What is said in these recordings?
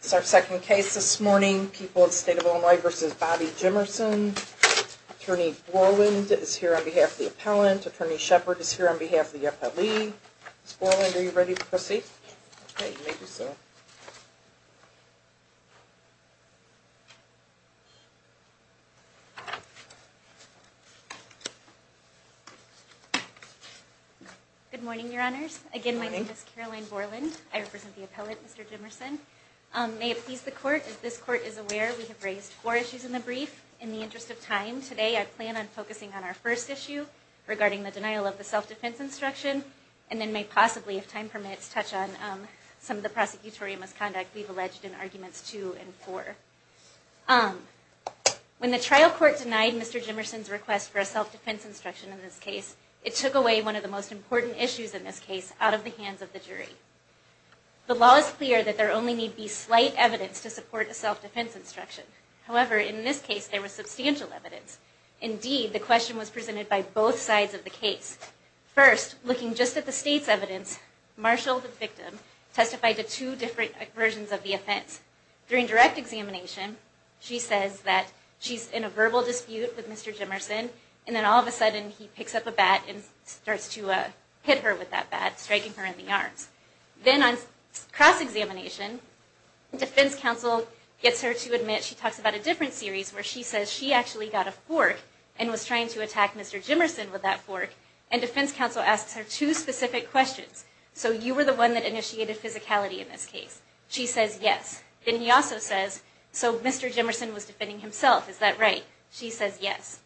It's our second case this morning. People of the State of Illinois v. Bobby Jimerson. Attorney Borland is here on behalf of the appellant. Attorney Shepard is here on behalf of the appellee. Ms. Borland, are you ready to proceed? Good morning, Your Honors. Again, my name is Caroline Borland. I represent the appellant, Mr. Jimerson. May it please the Court, as this Court is aware, we have raised four issues in the brief. In the interest of time, today I plan on focusing on our first issue, regarding the denial of the self-defense instruction, and then may possibly, if time permits, touch on some of the prosecutorial misconduct we've alleged in Arguments 2 and 4. When the trial court denied Mr. Jimerson's request for a self-defense instruction in this case, it took away one of the most important issues in this case out of the hands of the jury. The law is clear that there only need be slight evidence to support a self-defense instruction. However, in this case, there was substantial evidence. Indeed, the question was presented by both sides of the case. First, looking just at the State's evidence, Marshall, the victim, testified to two different versions of the offense. During direct examination, she says that she's in a verbal dispute with Mr. Jimerson, and then all of a sudden he picks up a bat and starts to hit her with that bat, striking her in the arms. Then on cross-examination, defense counsel gets her to admit she talks about a different series, where she says she actually got a fork and was trying to attack Mr. Jimerson with that fork, and defense counsel asks her two specific questions. So you were the one that initiated physicality in this case. She says yes. Then he also says, so Mr. Jimerson was defending himself, is that right? She says yes.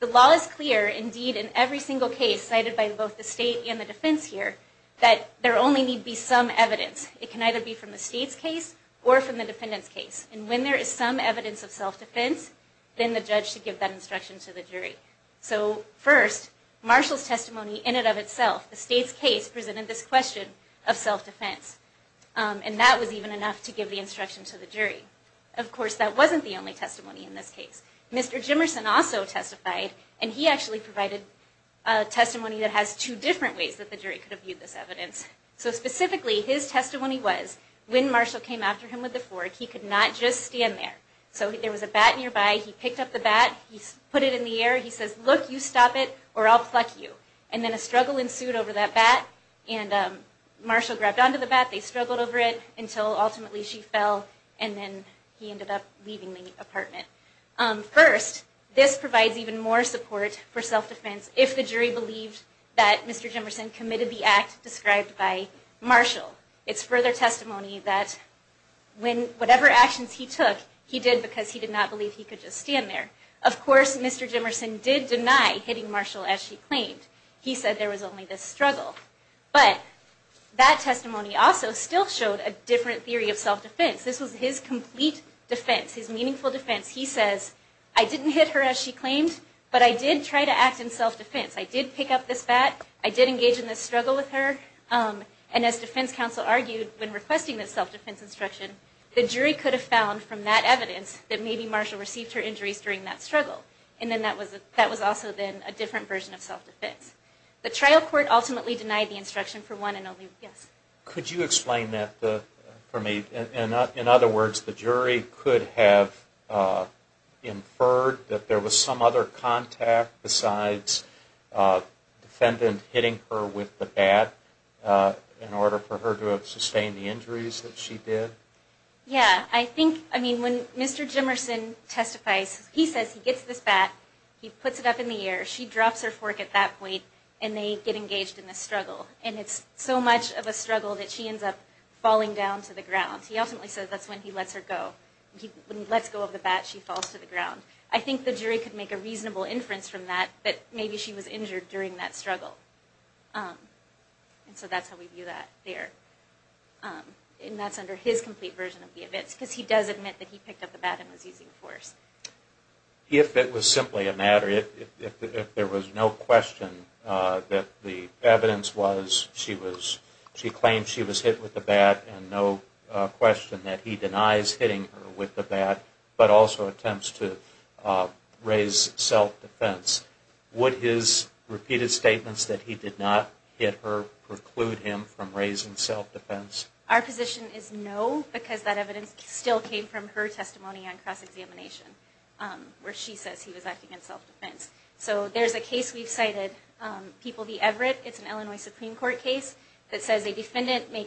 The law is clear, indeed, in every single case cited by both the State and the defense here, that there only need be some evidence. It can either be from the State's case or from the defendant's case. And when there is some evidence of self-defense, then the judge should give that instruction to the jury. So first, Marshall's testimony in and of itself, the State's case, presented this question of self-defense. And that was even enough to give the instruction to the jury. Of course, that wasn't the only testimony in this case. Mr. Jimerson also testified, and he actually provided testimony that has two different ways that the jury could have viewed this evidence. So specifically, his testimony was, when Marshall came after him with the fork, he could not just stand there. So there was a bat nearby. He picked up the bat. He put it in the air. He says, look, you stop it, or I'll pluck you. And then a struggle ensued over that bat, and Marshall grabbed onto the bat. They struggled over it until ultimately she fell, and then he ended up leaving the apartment. First, this provides even more support for self-defense if the jury believed that Mr. Jimerson committed the act described by Marshall. It's further testimony that whatever actions he took, he did because he did not believe he could just stand there. Of course, Mr. Jimerson did deny hitting Marshall as she claimed. He said there was only this struggle. But that testimony also still showed a different theory of self-defense. This was his complete defense, his meaningful defense. He says, I didn't hit her as she claimed, but I did try to act in self-defense. I did pick up this bat. I did engage in this struggle with her. And as defense counsel argued when requesting this self-defense instruction, the jury could have found from that evidence that maybe Marshall received her injuries during that struggle. And then that was also then a different version of self-defense. The trial court ultimately denied the instruction for one and only. Yes? Could you explain that for me? In other words, the jury could have inferred that there was some other contact besides defendant hitting her with the bat in order for her to have sustained the injuries that she did? Yeah. I think, I mean, when Mr. Jimerson testifies, he says he gets this bat. He puts it up in the air. She drops her fork at that point, and they get engaged in this struggle. And it's so much of a struggle that she ends up falling down to the ground. He ultimately says that's when he lets her go. When he lets go of the bat, she falls to the ground. I think the jury could make a reasonable inference from that that maybe she was injured during that struggle. And so that's how we view that there. And that's under his complete version of the evidence, because he does admit that he picked up the bat and was using force. If it was simply a matter, if there was no question that the evidence was she claimed she was hit with the bat and no question that he denies hitting her with the bat, but also attempts to raise self-defense, would his repeated statements that he did not hit her preclude him from raising self-defense? Our position is no, because that evidence still came from her testimony on cross-examination, where she says he was acting in self-defense. So there's a case we've cited, People v. Everett. It's an Illinois Supreme Court case that says a defendant may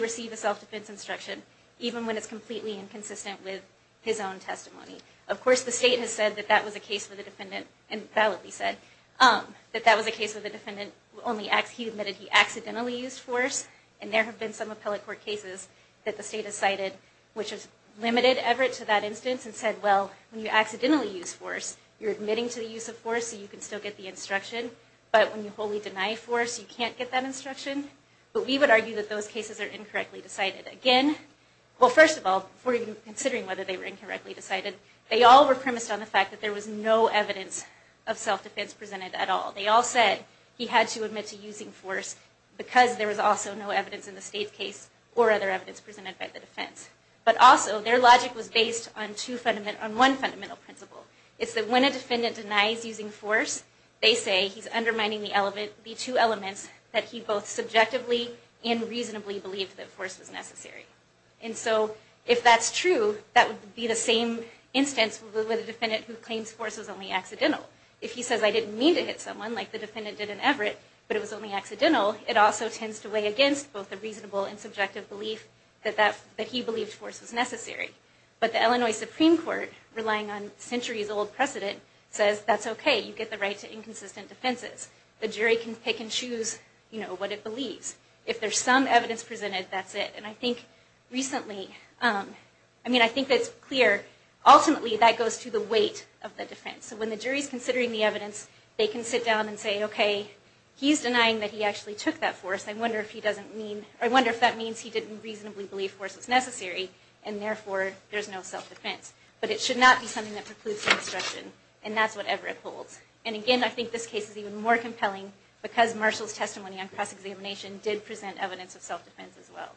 receive a self-defense instruction, even when it's completely inconsistent with his own testimony. Of course, the state has said that that was a case where the defendant, and validly said, that that was a case where the defendant only, he admitted he accidentally used force, and there have been some appellate court cases that the state has cited which has limited Everett to that instance and said, well, when you accidentally use force, you're admitting to the use of force so you can still get the instruction, but when you wholly deny force, you can't get that instruction. But we would argue that those cases are incorrectly decided. Again, well, first of all, before even considering whether they were incorrectly decided, they all were premised on the fact that there was no evidence of self-defense presented at all. They all said he had to admit to using force because there was also no evidence in the state's case or other evidence presented by the defense. But also, their logic was based on one fundamental principle. It's that when a defendant denies using force, they say he's undermining the two elements that he both subjectively and reasonably believed that force was necessary. And so, if that's true, that would be the same instance with a defendant who claims force was only accidental. If he says, I didn't mean to hit someone, like the defendant did in Everett, but it was only accidental, it also tends to weigh against both the reasonable and subjective belief that he believed force was necessary. But the Illinois Supreme Court, relying on centuries-old precedent, says that's okay. You get the right to inconsistent defenses. The jury can pick and choose what it believes. If there's some evidence presented, that's it. And I think recently, I mean, I think that's clear. Ultimately, that goes to the weight of the defense. So when the jury's considering the evidence, they can sit down and say, okay, he's denying that he actually took that force. I wonder if that means he didn't reasonably believe force was necessary, and therefore, there's no self-defense. But it should not be something that precludes obstruction, and that's what Everett holds. And again, I think this case is even more compelling because Marshall's testimony on cross-examination did present evidence of self-defense as well.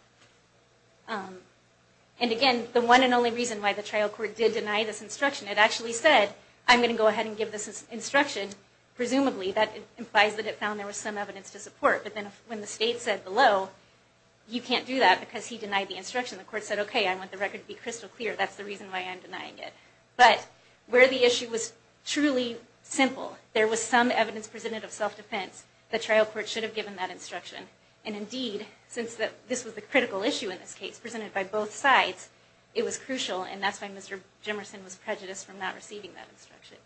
And again, the one and only reason why the trial court did deny this instruction, it actually said, I'm going to go ahead and give this instruction. Presumably, that implies that it found there was some evidence to support, but then when the state said below, you can't do that because he denied the instruction, the court said, okay, I want the record to be crystal clear, that's the reason why I'm denying it. But where the issue was truly simple, there was some evidence presented of self-defense, the trial court should have given that instruction. And indeed, since this was the critical issue in this case, presented by both sides, it was crucial, and that's why Mr. Jimerson was prejudiced from not receiving that instruction.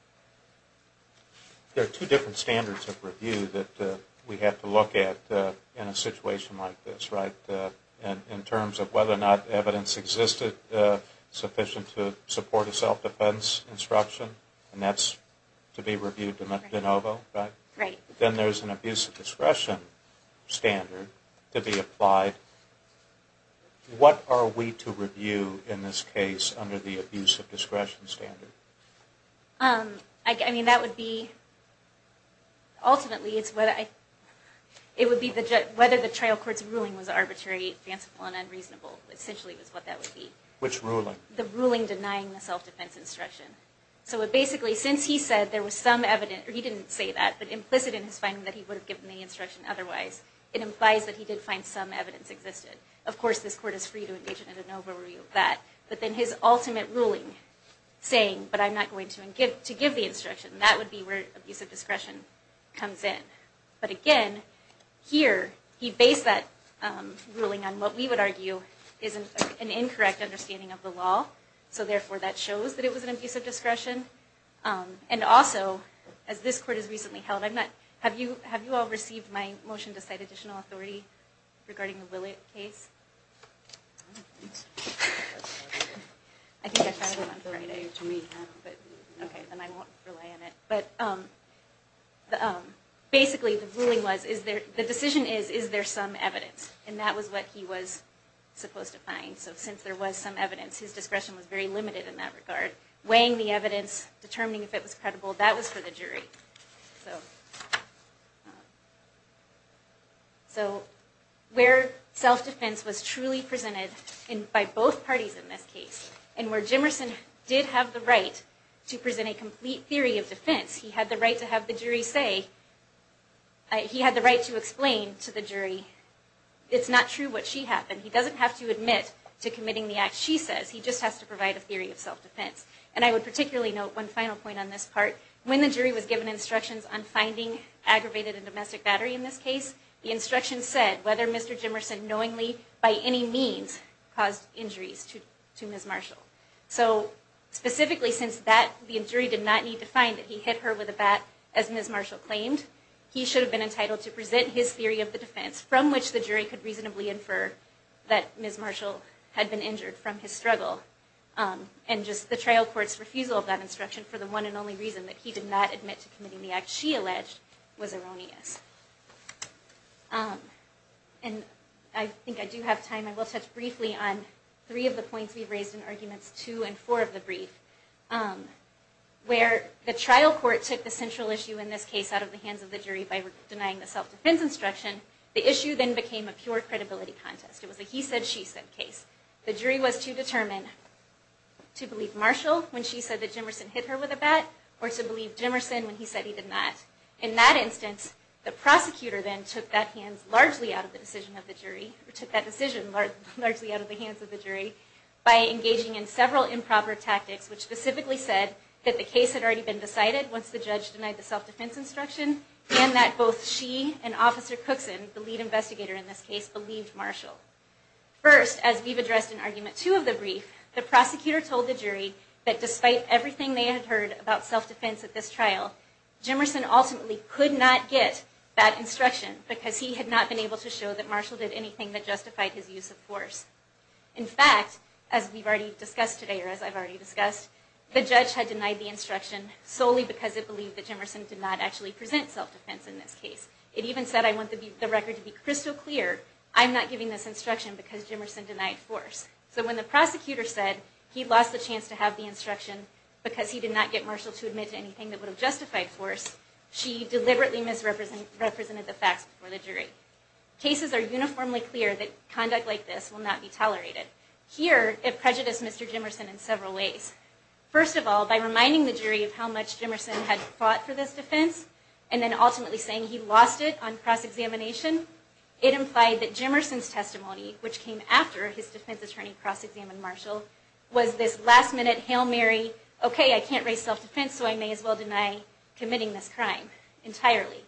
There are two different standards of review that we have to look at in a situation like this, right? In terms of whether or not evidence existed sufficient to support a self-defense instruction, and that's to be reviewed de novo, right? Right. Then there's an abuse of discretion standard to be applied. What are we to review in this case under the abuse of discretion standard? I mean, that would be, ultimately, it would be whether the trial court's ruling was arbitrary, fanciful, and unreasonable, essentially is what that would be. Which ruling? The ruling denying the self-defense instruction. So basically, since he said there was some evidence, or he didn't say that, but implicit in his finding that he would have given the instruction otherwise, it implies that he did find some evidence existed. Of course, this court is free to engage in a de novo review of that, but then his ultimate ruling saying, but I'm not going to give the instruction, that would be where abuse of discretion comes in. But again, here, he based that ruling on what we would argue is an incorrect understanding of the law, so therefore that shows that it was an abuse of discretion. And also, as this court has recently held, have you all received my motion to cite additional authority regarding the Willett case? I think I found it on Friday. Okay, then I won't rely on it. But basically, the ruling was, the decision is, is there some evidence? And that was what he was supposed to find. So since there was some evidence, his discretion was very limited in that regard. Weighing the evidence, determining if it was credible, that was for the jury. So where self-defense was truly presented by both parties in this case, and where Jimerson did have the right to present a complete theory of defense, he had the right to have the jury say, he had the right to explain to the jury, it's not true what she happened. He doesn't have to admit to committing the act she says. He just has to provide a theory of self-defense. And I would particularly note one final point on this part. When the jury was given instructions on finding aggravated and domestic battery in this case, the instructions said whether Mr. Jimerson knowingly, by any means, caused injuries to Ms. Marshall. So specifically, since the jury did not need to find that he hit her with a bat, as Ms. Marshall claimed, he should have been entitled to present his theory of the defense, from which the jury could reasonably infer that Ms. Marshall had been injured from his struggle. And just the trial court's refusal of that instruction, for the one and only reason that he did not admit to committing the act she alleged, was erroneous. And I think I do have time. I will touch briefly on three of the points we've raised in arguments two and four of the brief. Where the trial court took the central issue in this case out of the hands of the jury by denying the self-defense instruction, the issue then became a pure credibility contest. It was a he said, she said case. The jury was to determine to believe Marshall when she said that Jimerson hit her with a bat, or to believe Jimerson when he said he did not. In that instance, the prosecutor then took that decision largely out of the hands of the jury by engaging in several improper tactics, which specifically said that the case had already been decided once the judge denied the self-defense instruction, and that both she and Officer Cookson, the lead investigator in this case, believed Marshall. First, as we've addressed in argument two of the brief, the prosecutor told the jury that despite everything they had heard about self-defense at this trial, Jimerson ultimately could not get that instruction, because he had not been able to show that Marshall did anything that justified his use of force. In fact, as we've already discussed today, or as I've already discussed, the judge had denied the instruction solely because it believed that Jimerson did not actually present self-defense in this case. It even said, I want the record to be crystal clear. I'm not giving this instruction because Jimerson denied force. So when the prosecutor said he lost the chance to have the instruction because he did not get Marshall to admit to anything that would have justified force, she deliberately misrepresented the facts before the jury. Cases are uniformly clear that conduct like this will not be tolerated. Here, it prejudiced Mr. Jimerson in several ways. First of all, by reminding the jury of how much Jimerson had fought for this defense, and then ultimately saying he lost it on cross-examination, it implied that Jimerson's testimony, which came after his defense attorney cross-examined Marshall, was this last-minute Hail Mary, okay, I can't raise self-defense, so I may as well deny committing this crime entirely.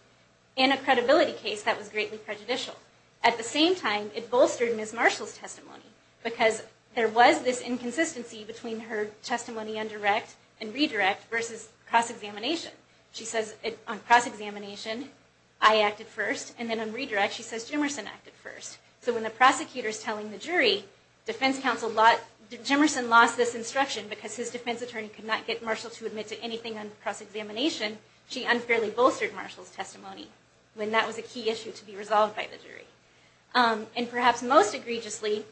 In a credibility case, that was greatly prejudicial. At the same time, it bolstered Ms. Marshall's testimony because there was this inconsistency between her testimony on direct and redirect versus cross-examination. She says on cross-examination, I acted first, and then on redirect, she says Jimerson acted first. So when the prosecutor is telling the jury, Jimerson lost this instruction because his defense attorney could not get Marshall to admit to anything on cross-examination, she unfairly bolstered Marshall's testimony when that was a key issue to be resolved by the jury. And perhaps most egregiously,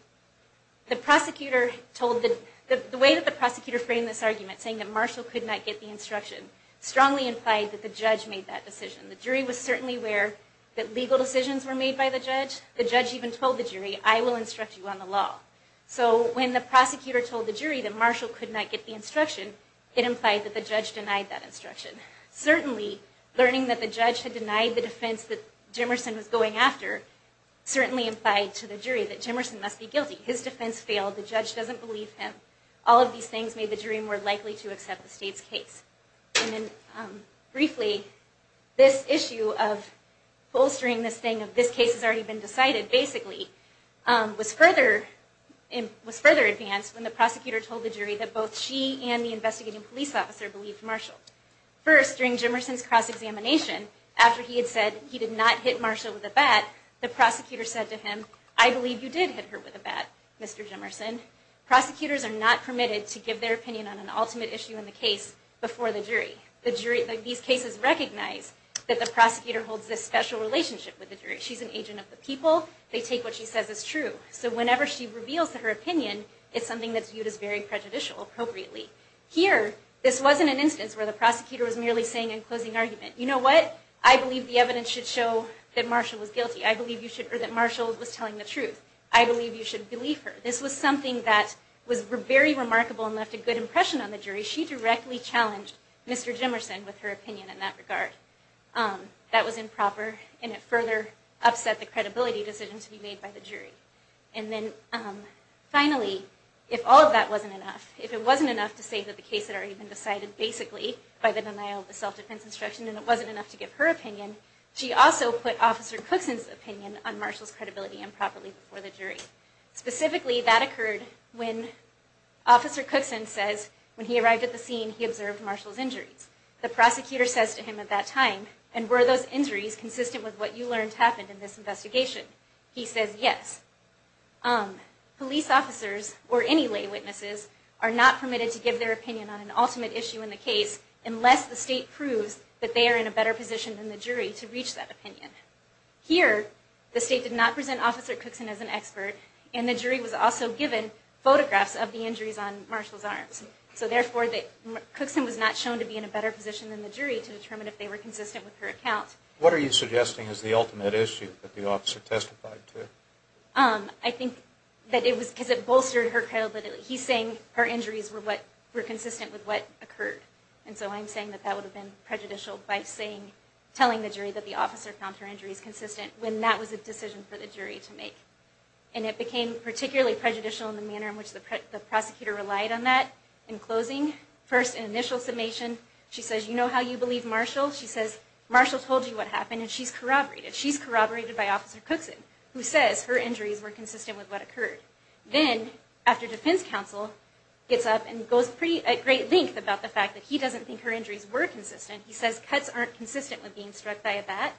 the way that the prosecutor framed this argument, saying that Marshall could not get the instruction, strongly implied that the judge made that decision. The jury was certainly aware that legal decisions were made by the judge. The judge even told the jury, I will instruct you on the law. So when the prosecutor told the jury that Marshall could not get the instruction, it implied that the judge denied that instruction. Certainly, learning that the judge had denied the defense that Jimerson was going after, certainly implied to the jury that Jimerson must be guilty. His defense failed. The judge doesn't believe him. All of these things made the jury more likely to accept the state's case. And then briefly, this issue of bolstering this thing of this case has already been decided, basically, was further advanced when the prosecutor told the jury that both she and the investigating police officer believed Marshall. First, during Jimerson's cross-examination, after he had said he did not hit Marshall with a bat, the prosecutor said to him, I believe you did hit her with a bat, Mr. Jimerson. Prosecutors are not permitted to give their opinion on an ultimate issue in the case before the jury. These cases recognize that the prosecutor holds this special relationship with the jury. She's an agent of the people. They take what she says as true. So whenever she reveals her opinion, it's something that's viewed as very prejudicial, appropriately. Here, this wasn't an instance where the prosecutor was merely saying in closing argument, you know what? I believe the evidence should show that Marshall was guilty. I believe you should, or that Marshall was telling the truth. I believe you should believe her. This was something that was very remarkable and left a good impression on the jury. She directly challenged Mr. Jimerson with her opinion in that regard. That was improper, and it further upset the credibility decision to be made by the jury. And then, finally, if all of that wasn't enough, if it wasn't enough to say that the case had already been decided basically by the denial of the self-defense instruction, and it wasn't enough to give her opinion, she also put Officer Cookson's opinion on Marshall's credibility improperly before the jury. Specifically, that occurred when Officer Cookson says, when he arrived at the scene, he observed Marshall's injuries. The prosecutor says to him at that time, and were those injuries consistent with what you learned happened in this investigation? He says, yes. Police officers, or any lay witnesses, are not permitted to give their opinion on an ultimate issue in the case unless the state proves that they are in a better position than the jury to reach that opinion. Here, the state did not present Officer Cookson as an expert, and the jury was also given photographs of the injuries on Marshall's arms. So, therefore, Cookson was not shown to be in a better position than the jury to determine if they were consistent with her account. What are you suggesting is the ultimate issue that the officer testified to? I think that it was because it bolstered her credibility. He's saying her injuries were consistent with what occurred. And so I'm saying that that would have been prejudicial by telling the jury that the officer found her injuries consistent when that was a decision for the jury to make. And it became particularly prejudicial in the manner in which the prosecutor relied on that. In closing, first an initial summation, she says, you know how you believe Marshall? She says, Marshall told you what happened, and she's corroborated. She's corroborated by Officer Cookson, who says her injuries were consistent with what occurred. Then, after defense counsel gets up and goes at great length about the fact that he doesn't think her injuries were consistent, he says cuts aren't consistent with being struck by a bat,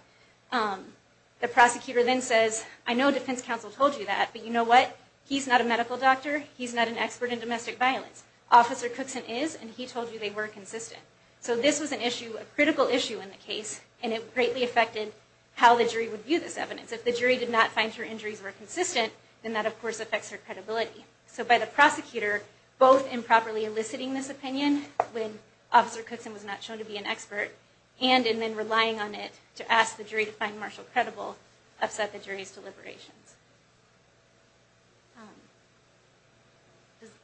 the prosecutor then says, I know defense counsel told you that, but you know what? He's not a medical doctor. He's not an expert in domestic violence. Officer Cookson is, and he told you they were consistent. So this was an issue, a critical issue in the case, and it greatly affected how the jury would view this evidence. If the jury did not find her injuries were consistent, then that, of course, affects her credibility. So by the prosecutor both improperly eliciting this opinion when Officer Cookson was not shown to be an expert, and in then relying on it to ask the jury to find Marshall credible, upset the jury's deliberations.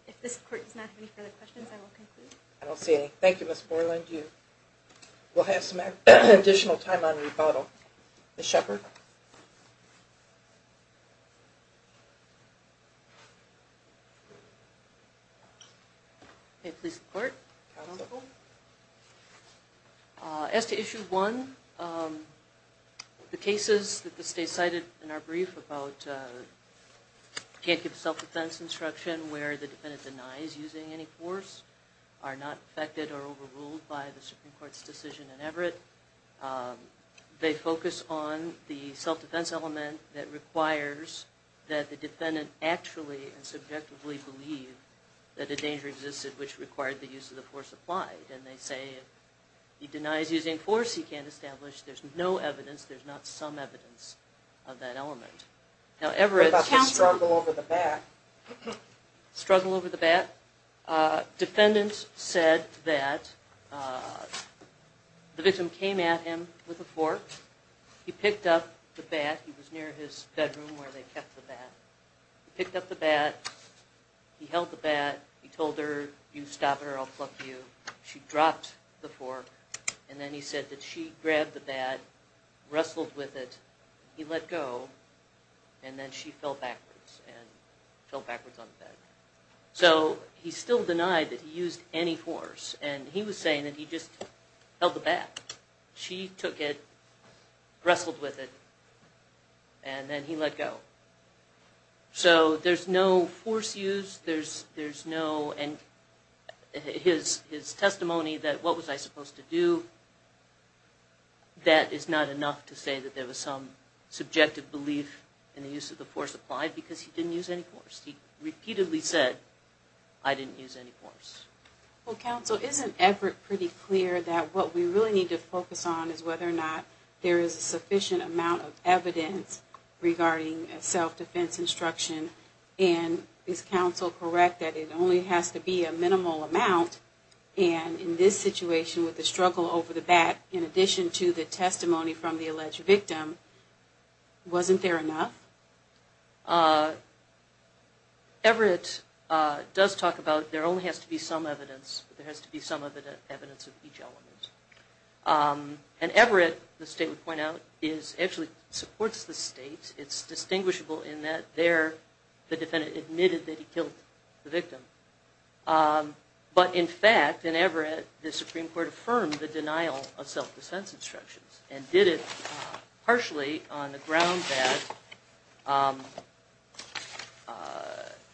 If this court does not have any further questions, I will conclude. I don't see any. Thank you, Ms. Borland. We'll have some additional time on rebuttal. Ms. Shepard? May it please the court. As to issue one, the cases that the state cited in our brief about can't give self-defense instruction where the defendant denies using any force are not affected or overruled by the Supreme Court's decision in Everett. They focus on the self-defense element that requires that the defendant actually and subjectively believe that a danger existed which required the use of the force applied. And they say if he denies using force, he can't establish. There's no evidence. There's not some evidence of that element. What about his struggle over the bat? Struggle over the bat? Defendant said that the victim came at him with a fork. He picked up the bat. He was near his bedroom where they kept the bat. He picked up the bat. He held the bat. He told her, you stop it or I'll pluck you. She dropped the fork. And then he said that she grabbed the bat, wrestled with it. He let go. And then she fell backwards and fell backwards on the bed. So he still denied that he used any force. And he was saying that he just held the bat. She took it, wrestled with it, and then he let go. So there's no force used. And his testimony that what was I supposed to do, that is not enough to say that there was some subjective belief in the use of the force applied because he didn't use any force. He repeatedly said, I didn't use any force. Well, Counsel, isn't Everett pretty clear that what we really need to focus on is whether or not there is a sufficient amount of evidence regarding self-defense instruction? And is Counsel correct that it only has to be a minimal amount? And in this situation with the struggle over the bat, in addition to the testimony from the alleged victim, wasn't there enough? Everett does talk about there only has to be some evidence, but there has to be some evidence of each element. And Everett, the state would point out, actually supports the state. It's distinguishable in that there the defendant admitted that he killed the victim. But in fact, in Everett, the Supreme Court affirmed the denial of self-defense instructions and did it partially on the ground that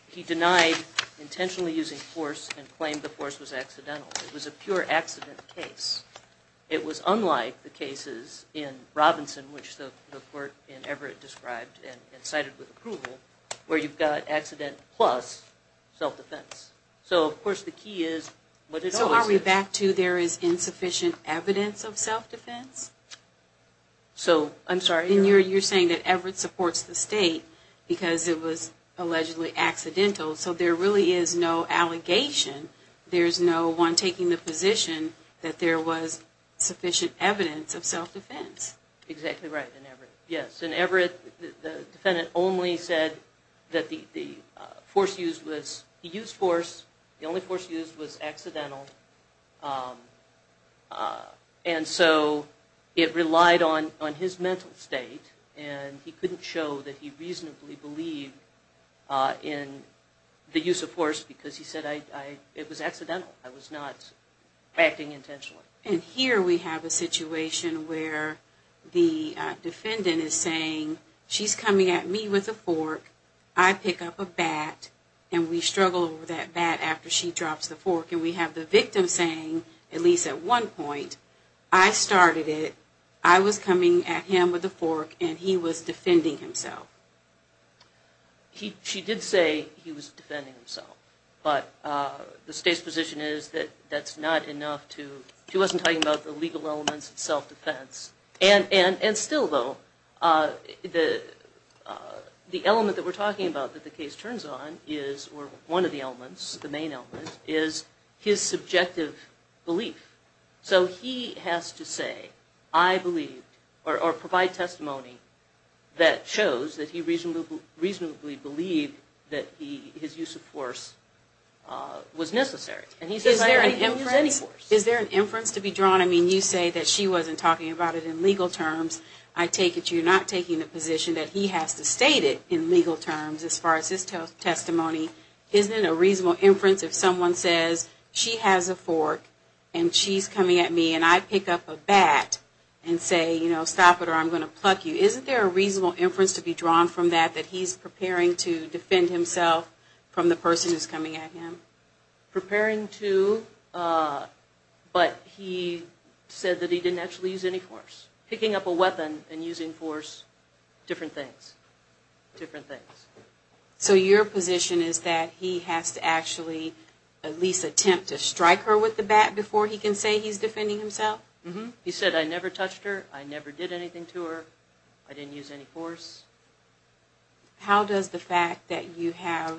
he denied intentionally using force and claimed the force was accidental. It was a pure accident case. It was unlike the cases in Robinson, which the court in Everett described and cited with approval, where you've got accident plus self-defense. So, of course, the key is what it always is. So are we back to there is insufficient evidence of self-defense? So, I'm sorry. And you're saying that Everett supports the state because it was allegedly accidental. So there really is no allegation. There's no one taking the position that there was sufficient evidence of self-defense. Exactly right in Everett. Yes. In Everett, the defendant only said that he used force. The only force used was accidental. And so it relied on his mental state, and he couldn't show that he reasonably believed in the use of force because he said it was accidental. I was not acting intentionally. And here we have a situation where the defendant is saying, she's coming at me with a fork, I pick up a bat, and we struggle with that bat after she drops the fork. And we have the victim saying, at least at one point, I started it, I was coming at him with a fork, and he was defending himself. She did say he was defending himself, but the state's position is that that's not enough to, she wasn't talking about the legal elements of self-defense. And still, though, the element that we're talking about that the case turns on is, or one of the elements, the main element, is his subjective belief. So he has to say, I believe, or provide testimony that shows that he reasonably believed that his use of force was necessary. And he says I don't use any force. Is there an inference to be drawn? I mean, you say that she wasn't talking about it in legal terms. I take it you're not taking the position that he has to state it in legal terms as far as his testimony. Isn't it a reasonable inference if someone says she has a fork, and she's coming at me, and I pick up a bat and say, you know, stop it or I'm going to pluck you. Isn't there a reasonable inference to be drawn from that, that he's preparing to defend himself from the person who's coming at him? Preparing to, but he said that he didn't actually use any force. Picking up a weapon and using force, different things, different things. So your position is that he has to actually at least attempt to strike her with the bat before he can say he's defending himself? He said I never touched her. I never did anything to her. I didn't use any force. How does the fact that you have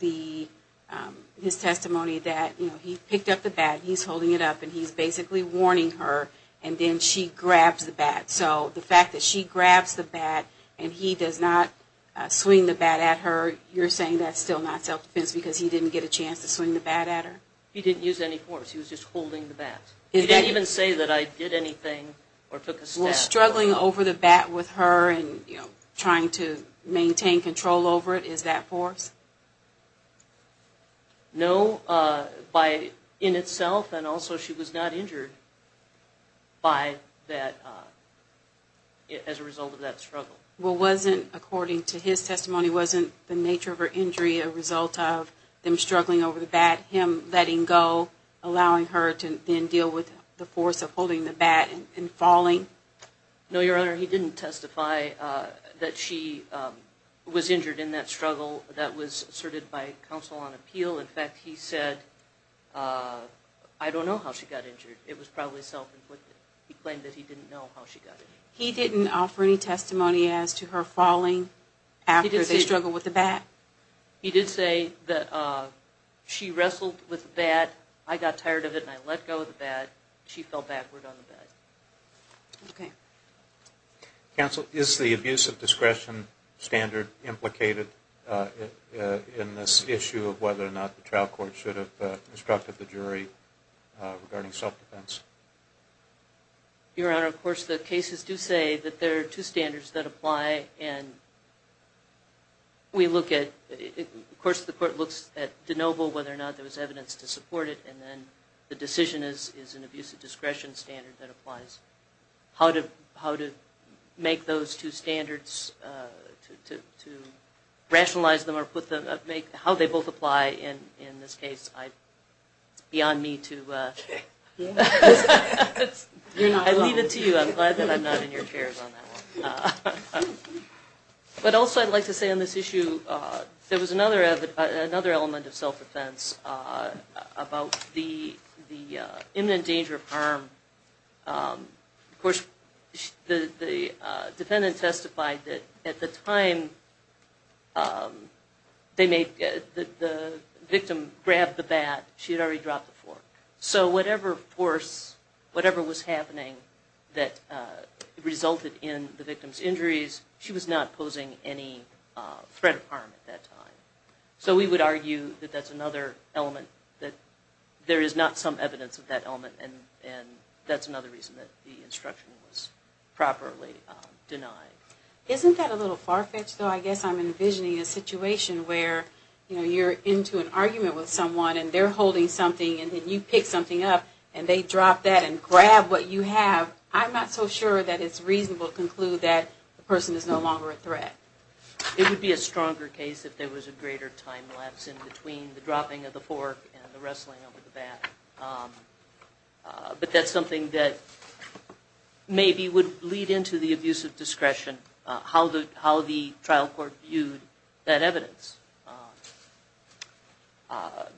his testimony that, you know, he picked up the bat, he's holding it up, and he's basically warning her, and then she grabs the bat. So the fact that she grabs the bat and he does not swing the bat at her, you're saying that's still not self-defense because he didn't get a chance to swing the bat at her? He didn't use any force. He was just holding the bat. He didn't even say that I did anything or took a stab. Well, struggling over the bat with her and, you know, trying to maintain control over it, is that force? No, in itself, and also she was not injured as a result of that struggle. Well, according to his testimony, wasn't the nature of her injury a result of him struggling over the bat, him letting go, allowing her to then deal with the force of holding the bat and falling? No, Your Honor, he didn't testify that she was injured in that struggle, that was asserted by counsel on appeal. In fact, he said, I don't know how she got injured. It was probably self-inflicted. He claimed that he didn't know how she got injured. He didn't offer any testimony as to her falling after they struggled with the bat? He did say that she wrestled with the bat. I got tired of it, and I let go of the bat. She fell backward on the bat. Okay. Counsel, is the abuse of discretion standard implicated in this issue of whether or not the trial court should have instructed the jury regarding self-defense? Your Honor, of course the cases do say that there are two standards that apply, and we look at, of course the court looks at de novo whether or not there was evidence to support it, and then the decision is an abuse of discretion standard that applies. How to make those two standards, to rationalize them or put them, how they both apply in this case, it's beyond me to, I leave it to you. I'm glad that I'm not in your chairs on that one. But also I'd like to say on this issue, there was another element of self-defense about the imminent danger of violence. Of course the defendant testified that at the time the victim grabbed the bat, she had already dropped the fork. So whatever force, whatever was happening that resulted in the victim's injuries, she was not posing any threat of harm at that time. So we would argue that that's another element, that there is not some evidence of that element, and that's another reason that the instruction was properly denied. Isn't that a little far-fetched though? I guess I'm envisioning a situation where, you know, you're into an argument with someone and they're holding something and then you pick something up and they drop that and grab what you have. I'm not so sure that it's reasonable to conclude that the person is no longer a threat. It would be a stronger case if there was a greater time lapse in between the dropping of the fork and the wrestling over the bat. But that's something that maybe would lead into the abuse of discretion, how the trial court viewed that evidence.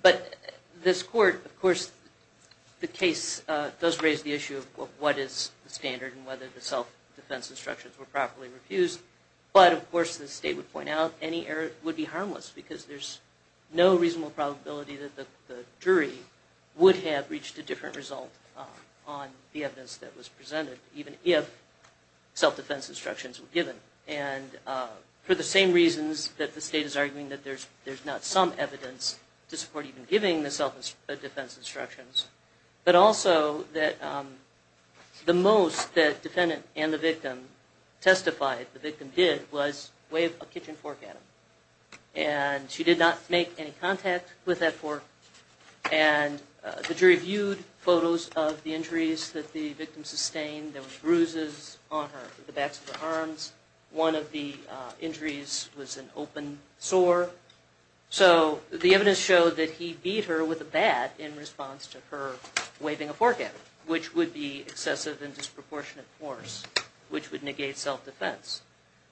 But this court, of course, the case does raise the issue of what is the standard and whether the self-defense instructions were properly refused. But, of course, the state would point out any error would be harmless because there's no reasonable probability that the jury would have reached a different result on the evidence that was presented, even if self-defense instructions were given. And for the same reasons that the state is arguing that there's not some evidence to support even giving the self-defense instructions, but also that the most that defendant and the victim testified, the victim did, was wave a kitchen fork at him. And she did not make any contact with that fork. And the jury viewed photos of the injuries that the victim sustained. There were bruises on her, the backs of her arms. One of the injuries was an open sore. So the evidence showed that he beat her with a bat in response to her waving a fork at her, which would be excessive and disproportionate force, which would negate self-defense.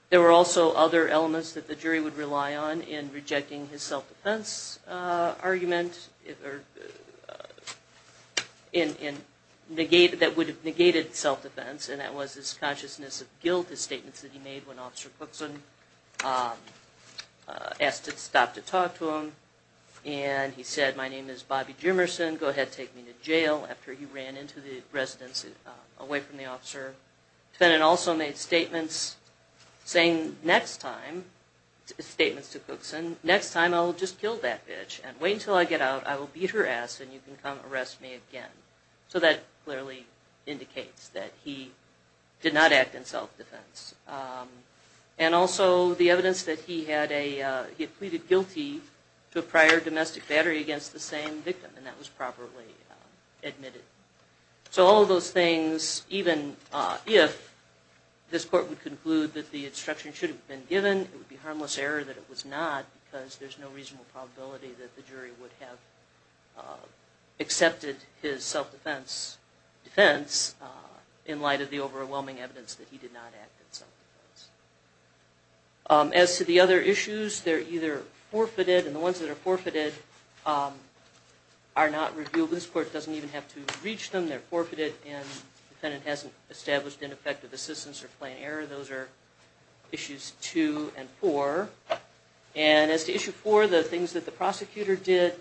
There were also other elements that the jury would rely on in rejecting his self-defense argument that would have negated self-defense, and that was his consciousness of guilt, his statements that he made when Officer Cookson asked to stop to talk to him. And he said, my name is Bobby Jimerson. Go ahead, take me to jail. After he ran into the residence away from the officer, the defendant also made statements saying, next time, statements to Cookson, next time I'll just kill that bitch and wait until I get out, I will beat her ass and you can come arrest me again. So that clearly indicates that he did not act in self-defense. And also the evidence that he had pleaded guilty to a prior domestic battery against the same victim, and that was properly admitted. So all of those things, even if this court would conclude that the instruction should have been given, it would be harmless error that it was not because there's no reasonable probability that the jury would have accepted his self-defense defense in light of the overwhelming evidence that he did not act in self-defense. As to the other issues, they're either forfeited, and the ones that are forfeited are not revealed. This court doesn't even have to reach them. They're forfeited, and the defendant hasn't established ineffective assistance or plain error. Those are issues two and four. And as to issue four, the things that the prosecutor did,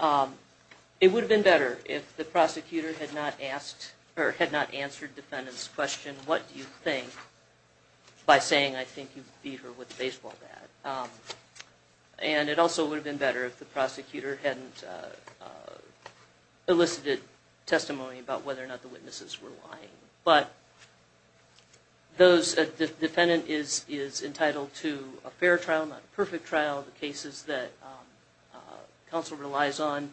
it would have been better if the prosecutor had not asked or had not answered the defendant's question, what do you think, by saying, I think you beat her with a baseball bat. And it also would have been better if the prosecutor hadn't elicited testimony about whether or not the witnesses were lying. But the defendant is entitled to a fair trial, not a perfect trial. The cases that counsel relies on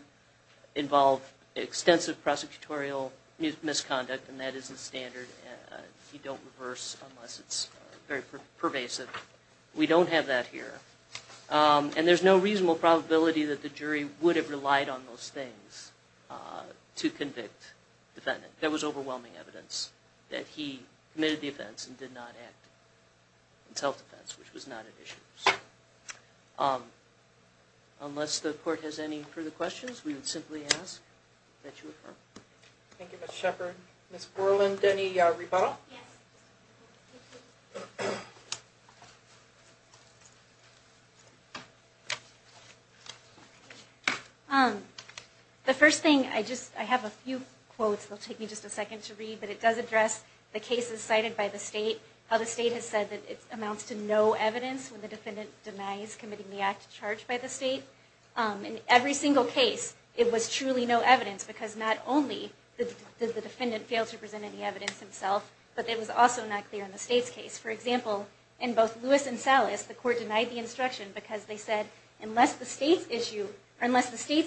involve extensive prosecutorial misconduct, and that isn't standard. You don't reverse unless it's very pervasive. We don't have that here. And there's no reasonable probability that the jury would have relied on those things to convict the defendant. There was overwhelming evidence that he committed the offense and did not act in self-defense, which was not an issue. Unless the court has any further questions, we would simply ask that you refer. Thank you, Ms. Shepard. Ms. Borland, any rebuttal? Yes. The first thing, I have a few quotes that will take me just a second to read, but it does address the cases cited by the state, how the state has said that it amounts to no evidence when the defendant denies committing the act charged by the state. In every single case, it was truly no evidence because not only did the but it was also not clear in the state's case. For example, in both Lewis and Salas, the court denied the instruction because they said, unless the state's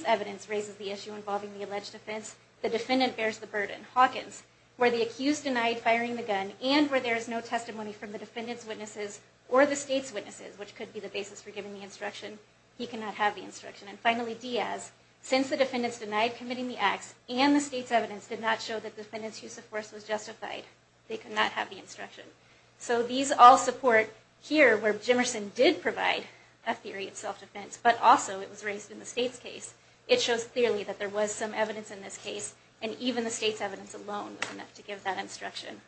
evidence raises the issue involving the alleged offense, the defendant bears the burden. Hawkins, where the accused denied firing the gun and where there is no testimony from the defendant's witnesses or the state's witnesses, which could be the basis for giving the instruction, he cannot have the instruction. And finally, Diaz, since the defendant's denied committing the acts and the state's evidence did not show that the defendant's use of force was justified, they could not have the instruction. So these all support here where Jimerson did provide a theory of self-defense, but also it was raised in the state's case. It shows clearly that there was some evidence in this case, and even the state's evidence alone was enough to give that instruction.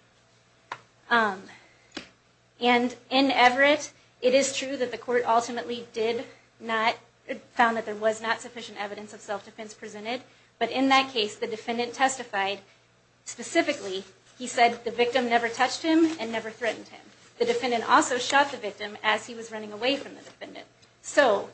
In Everett, it is true that the court ultimately found that there was not sufficient evidence of self-defense presented, but in that case, the defendant testified specifically. He said the victim never touched him and never threatened him. The defendant also shot the victim as he was running away from the defendant. So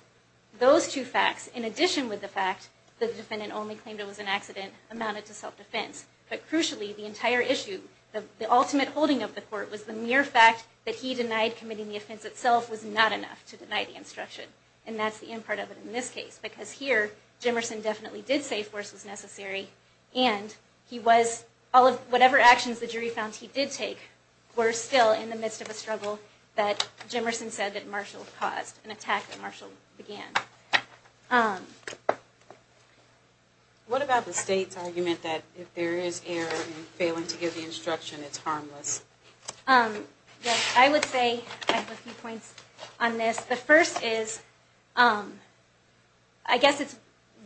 those two facts, in addition with the fact that the defendant only claimed it was an accident, amounted to self-defense. But crucially, the entire issue, the ultimate holding of the court was the mere fact that he denied committing the offense itself was not enough to deny the instruction. And that's the end part of it in this case because here, Jimerson definitely did say force was necessary, and he was, all of whatever actions the jury found he did take, were still in the midst of a struggle that Jimerson said that Marshall caused, an attack that Marshall began. What about the state's argument that if there is error in failing to give the instruction, it's harmless? I would say, I have a few points on this. The first is, I guess it's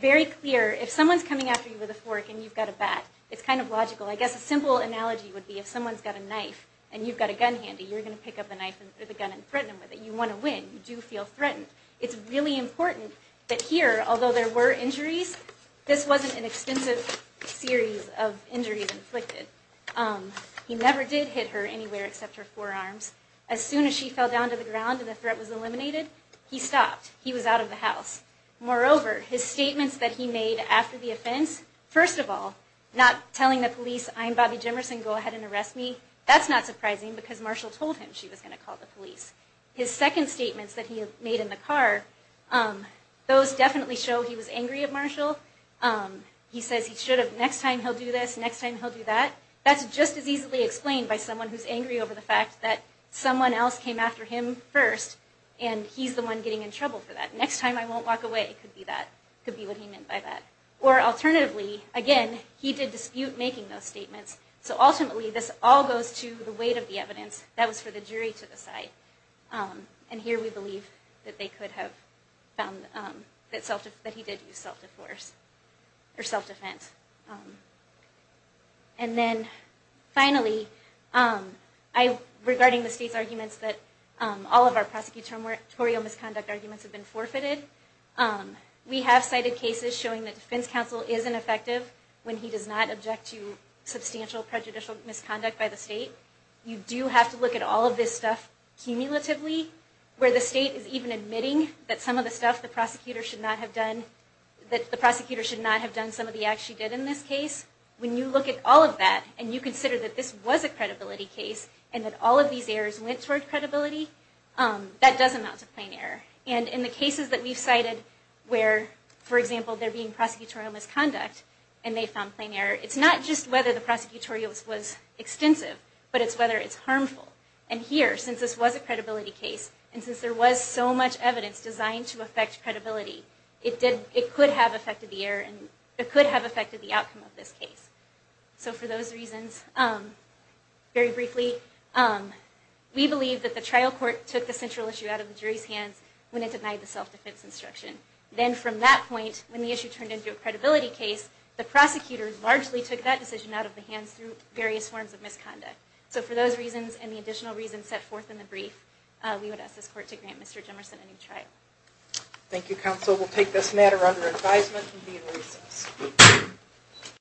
very clear, if someone's coming after you with a fork and you've got a bat, it's kind of logical. I guess a simple analogy would be if someone's got a knife and you've got a gun handy, you're going to pick up the gun and threaten them with it. You want to win. You do feel threatened. It's really important that here, although there were injuries, this wasn't an extensive series of injuries inflicted. He never did hit her anywhere except her forearms. As soon as she fell down to the ground and the threat was eliminated, he stopped. He was out of the house. Moreover, his statements that he made after the offense, first of all, not telling the police, I'm Bobby Jimerson, go ahead and arrest me, that's not surprising because Marshall told him she was going to call the police. His second statements that he made in the car, those definitely show he was angry at Marshall. He says he should have, next time he'll do this, next time he'll do that. That's just as easily explained by someone who's angry over the fact that someone else came after him first and he's the one getting in trouble for that. Next time I won't walk away. It could be that. It could be what he meant by that. Or alternatively, again, he did dispute making those statements, so ultimately this all goes to the weight of the evidence. That was for the jury to decide. And here we believe that they could have found that he did use self-defense. And then finally, regarding the state's arguments that all of our prosecutorial misconduct arguments have been forfeited, we have cited cases showing that defense counsel isn't effective when he does not object to substantial prejudicial misconduct by the state. You do have to look at all of this stuff cumulatively where the state is even admitting that some of the stuff the prosecutor should not have done, that the prosecutor should not have done some of the acts she did in this case. When you look at all of that and you consider that this was a credibility case and that all of these errors went toward credibility, that does amount to plain error. And in the cases that we've cited where, for example, there being prosecutorial misconduct and they found plain error, it's not just whether the prosecutorial was extensive, but it's whether it's harmful. And here, since this was a credibility case, and since there was so much evidence designed to affect credibility, it could have affected the outcome of this case. So for those reasons, very briefly, we believe that the trial court took the central issue out of the jury's hands when it denied the self-defense instruction. Then from that point, when the issue turned into a credibility case, the prosecutor largely took that decision out of the hands through various forms of misconduct. So for those reasons and the additional reasons set forth in the brief, we would ask this court to grant Mr. Jemerson a new trial. Thank you, counsel. We'll take this matter under advisement and be in recess.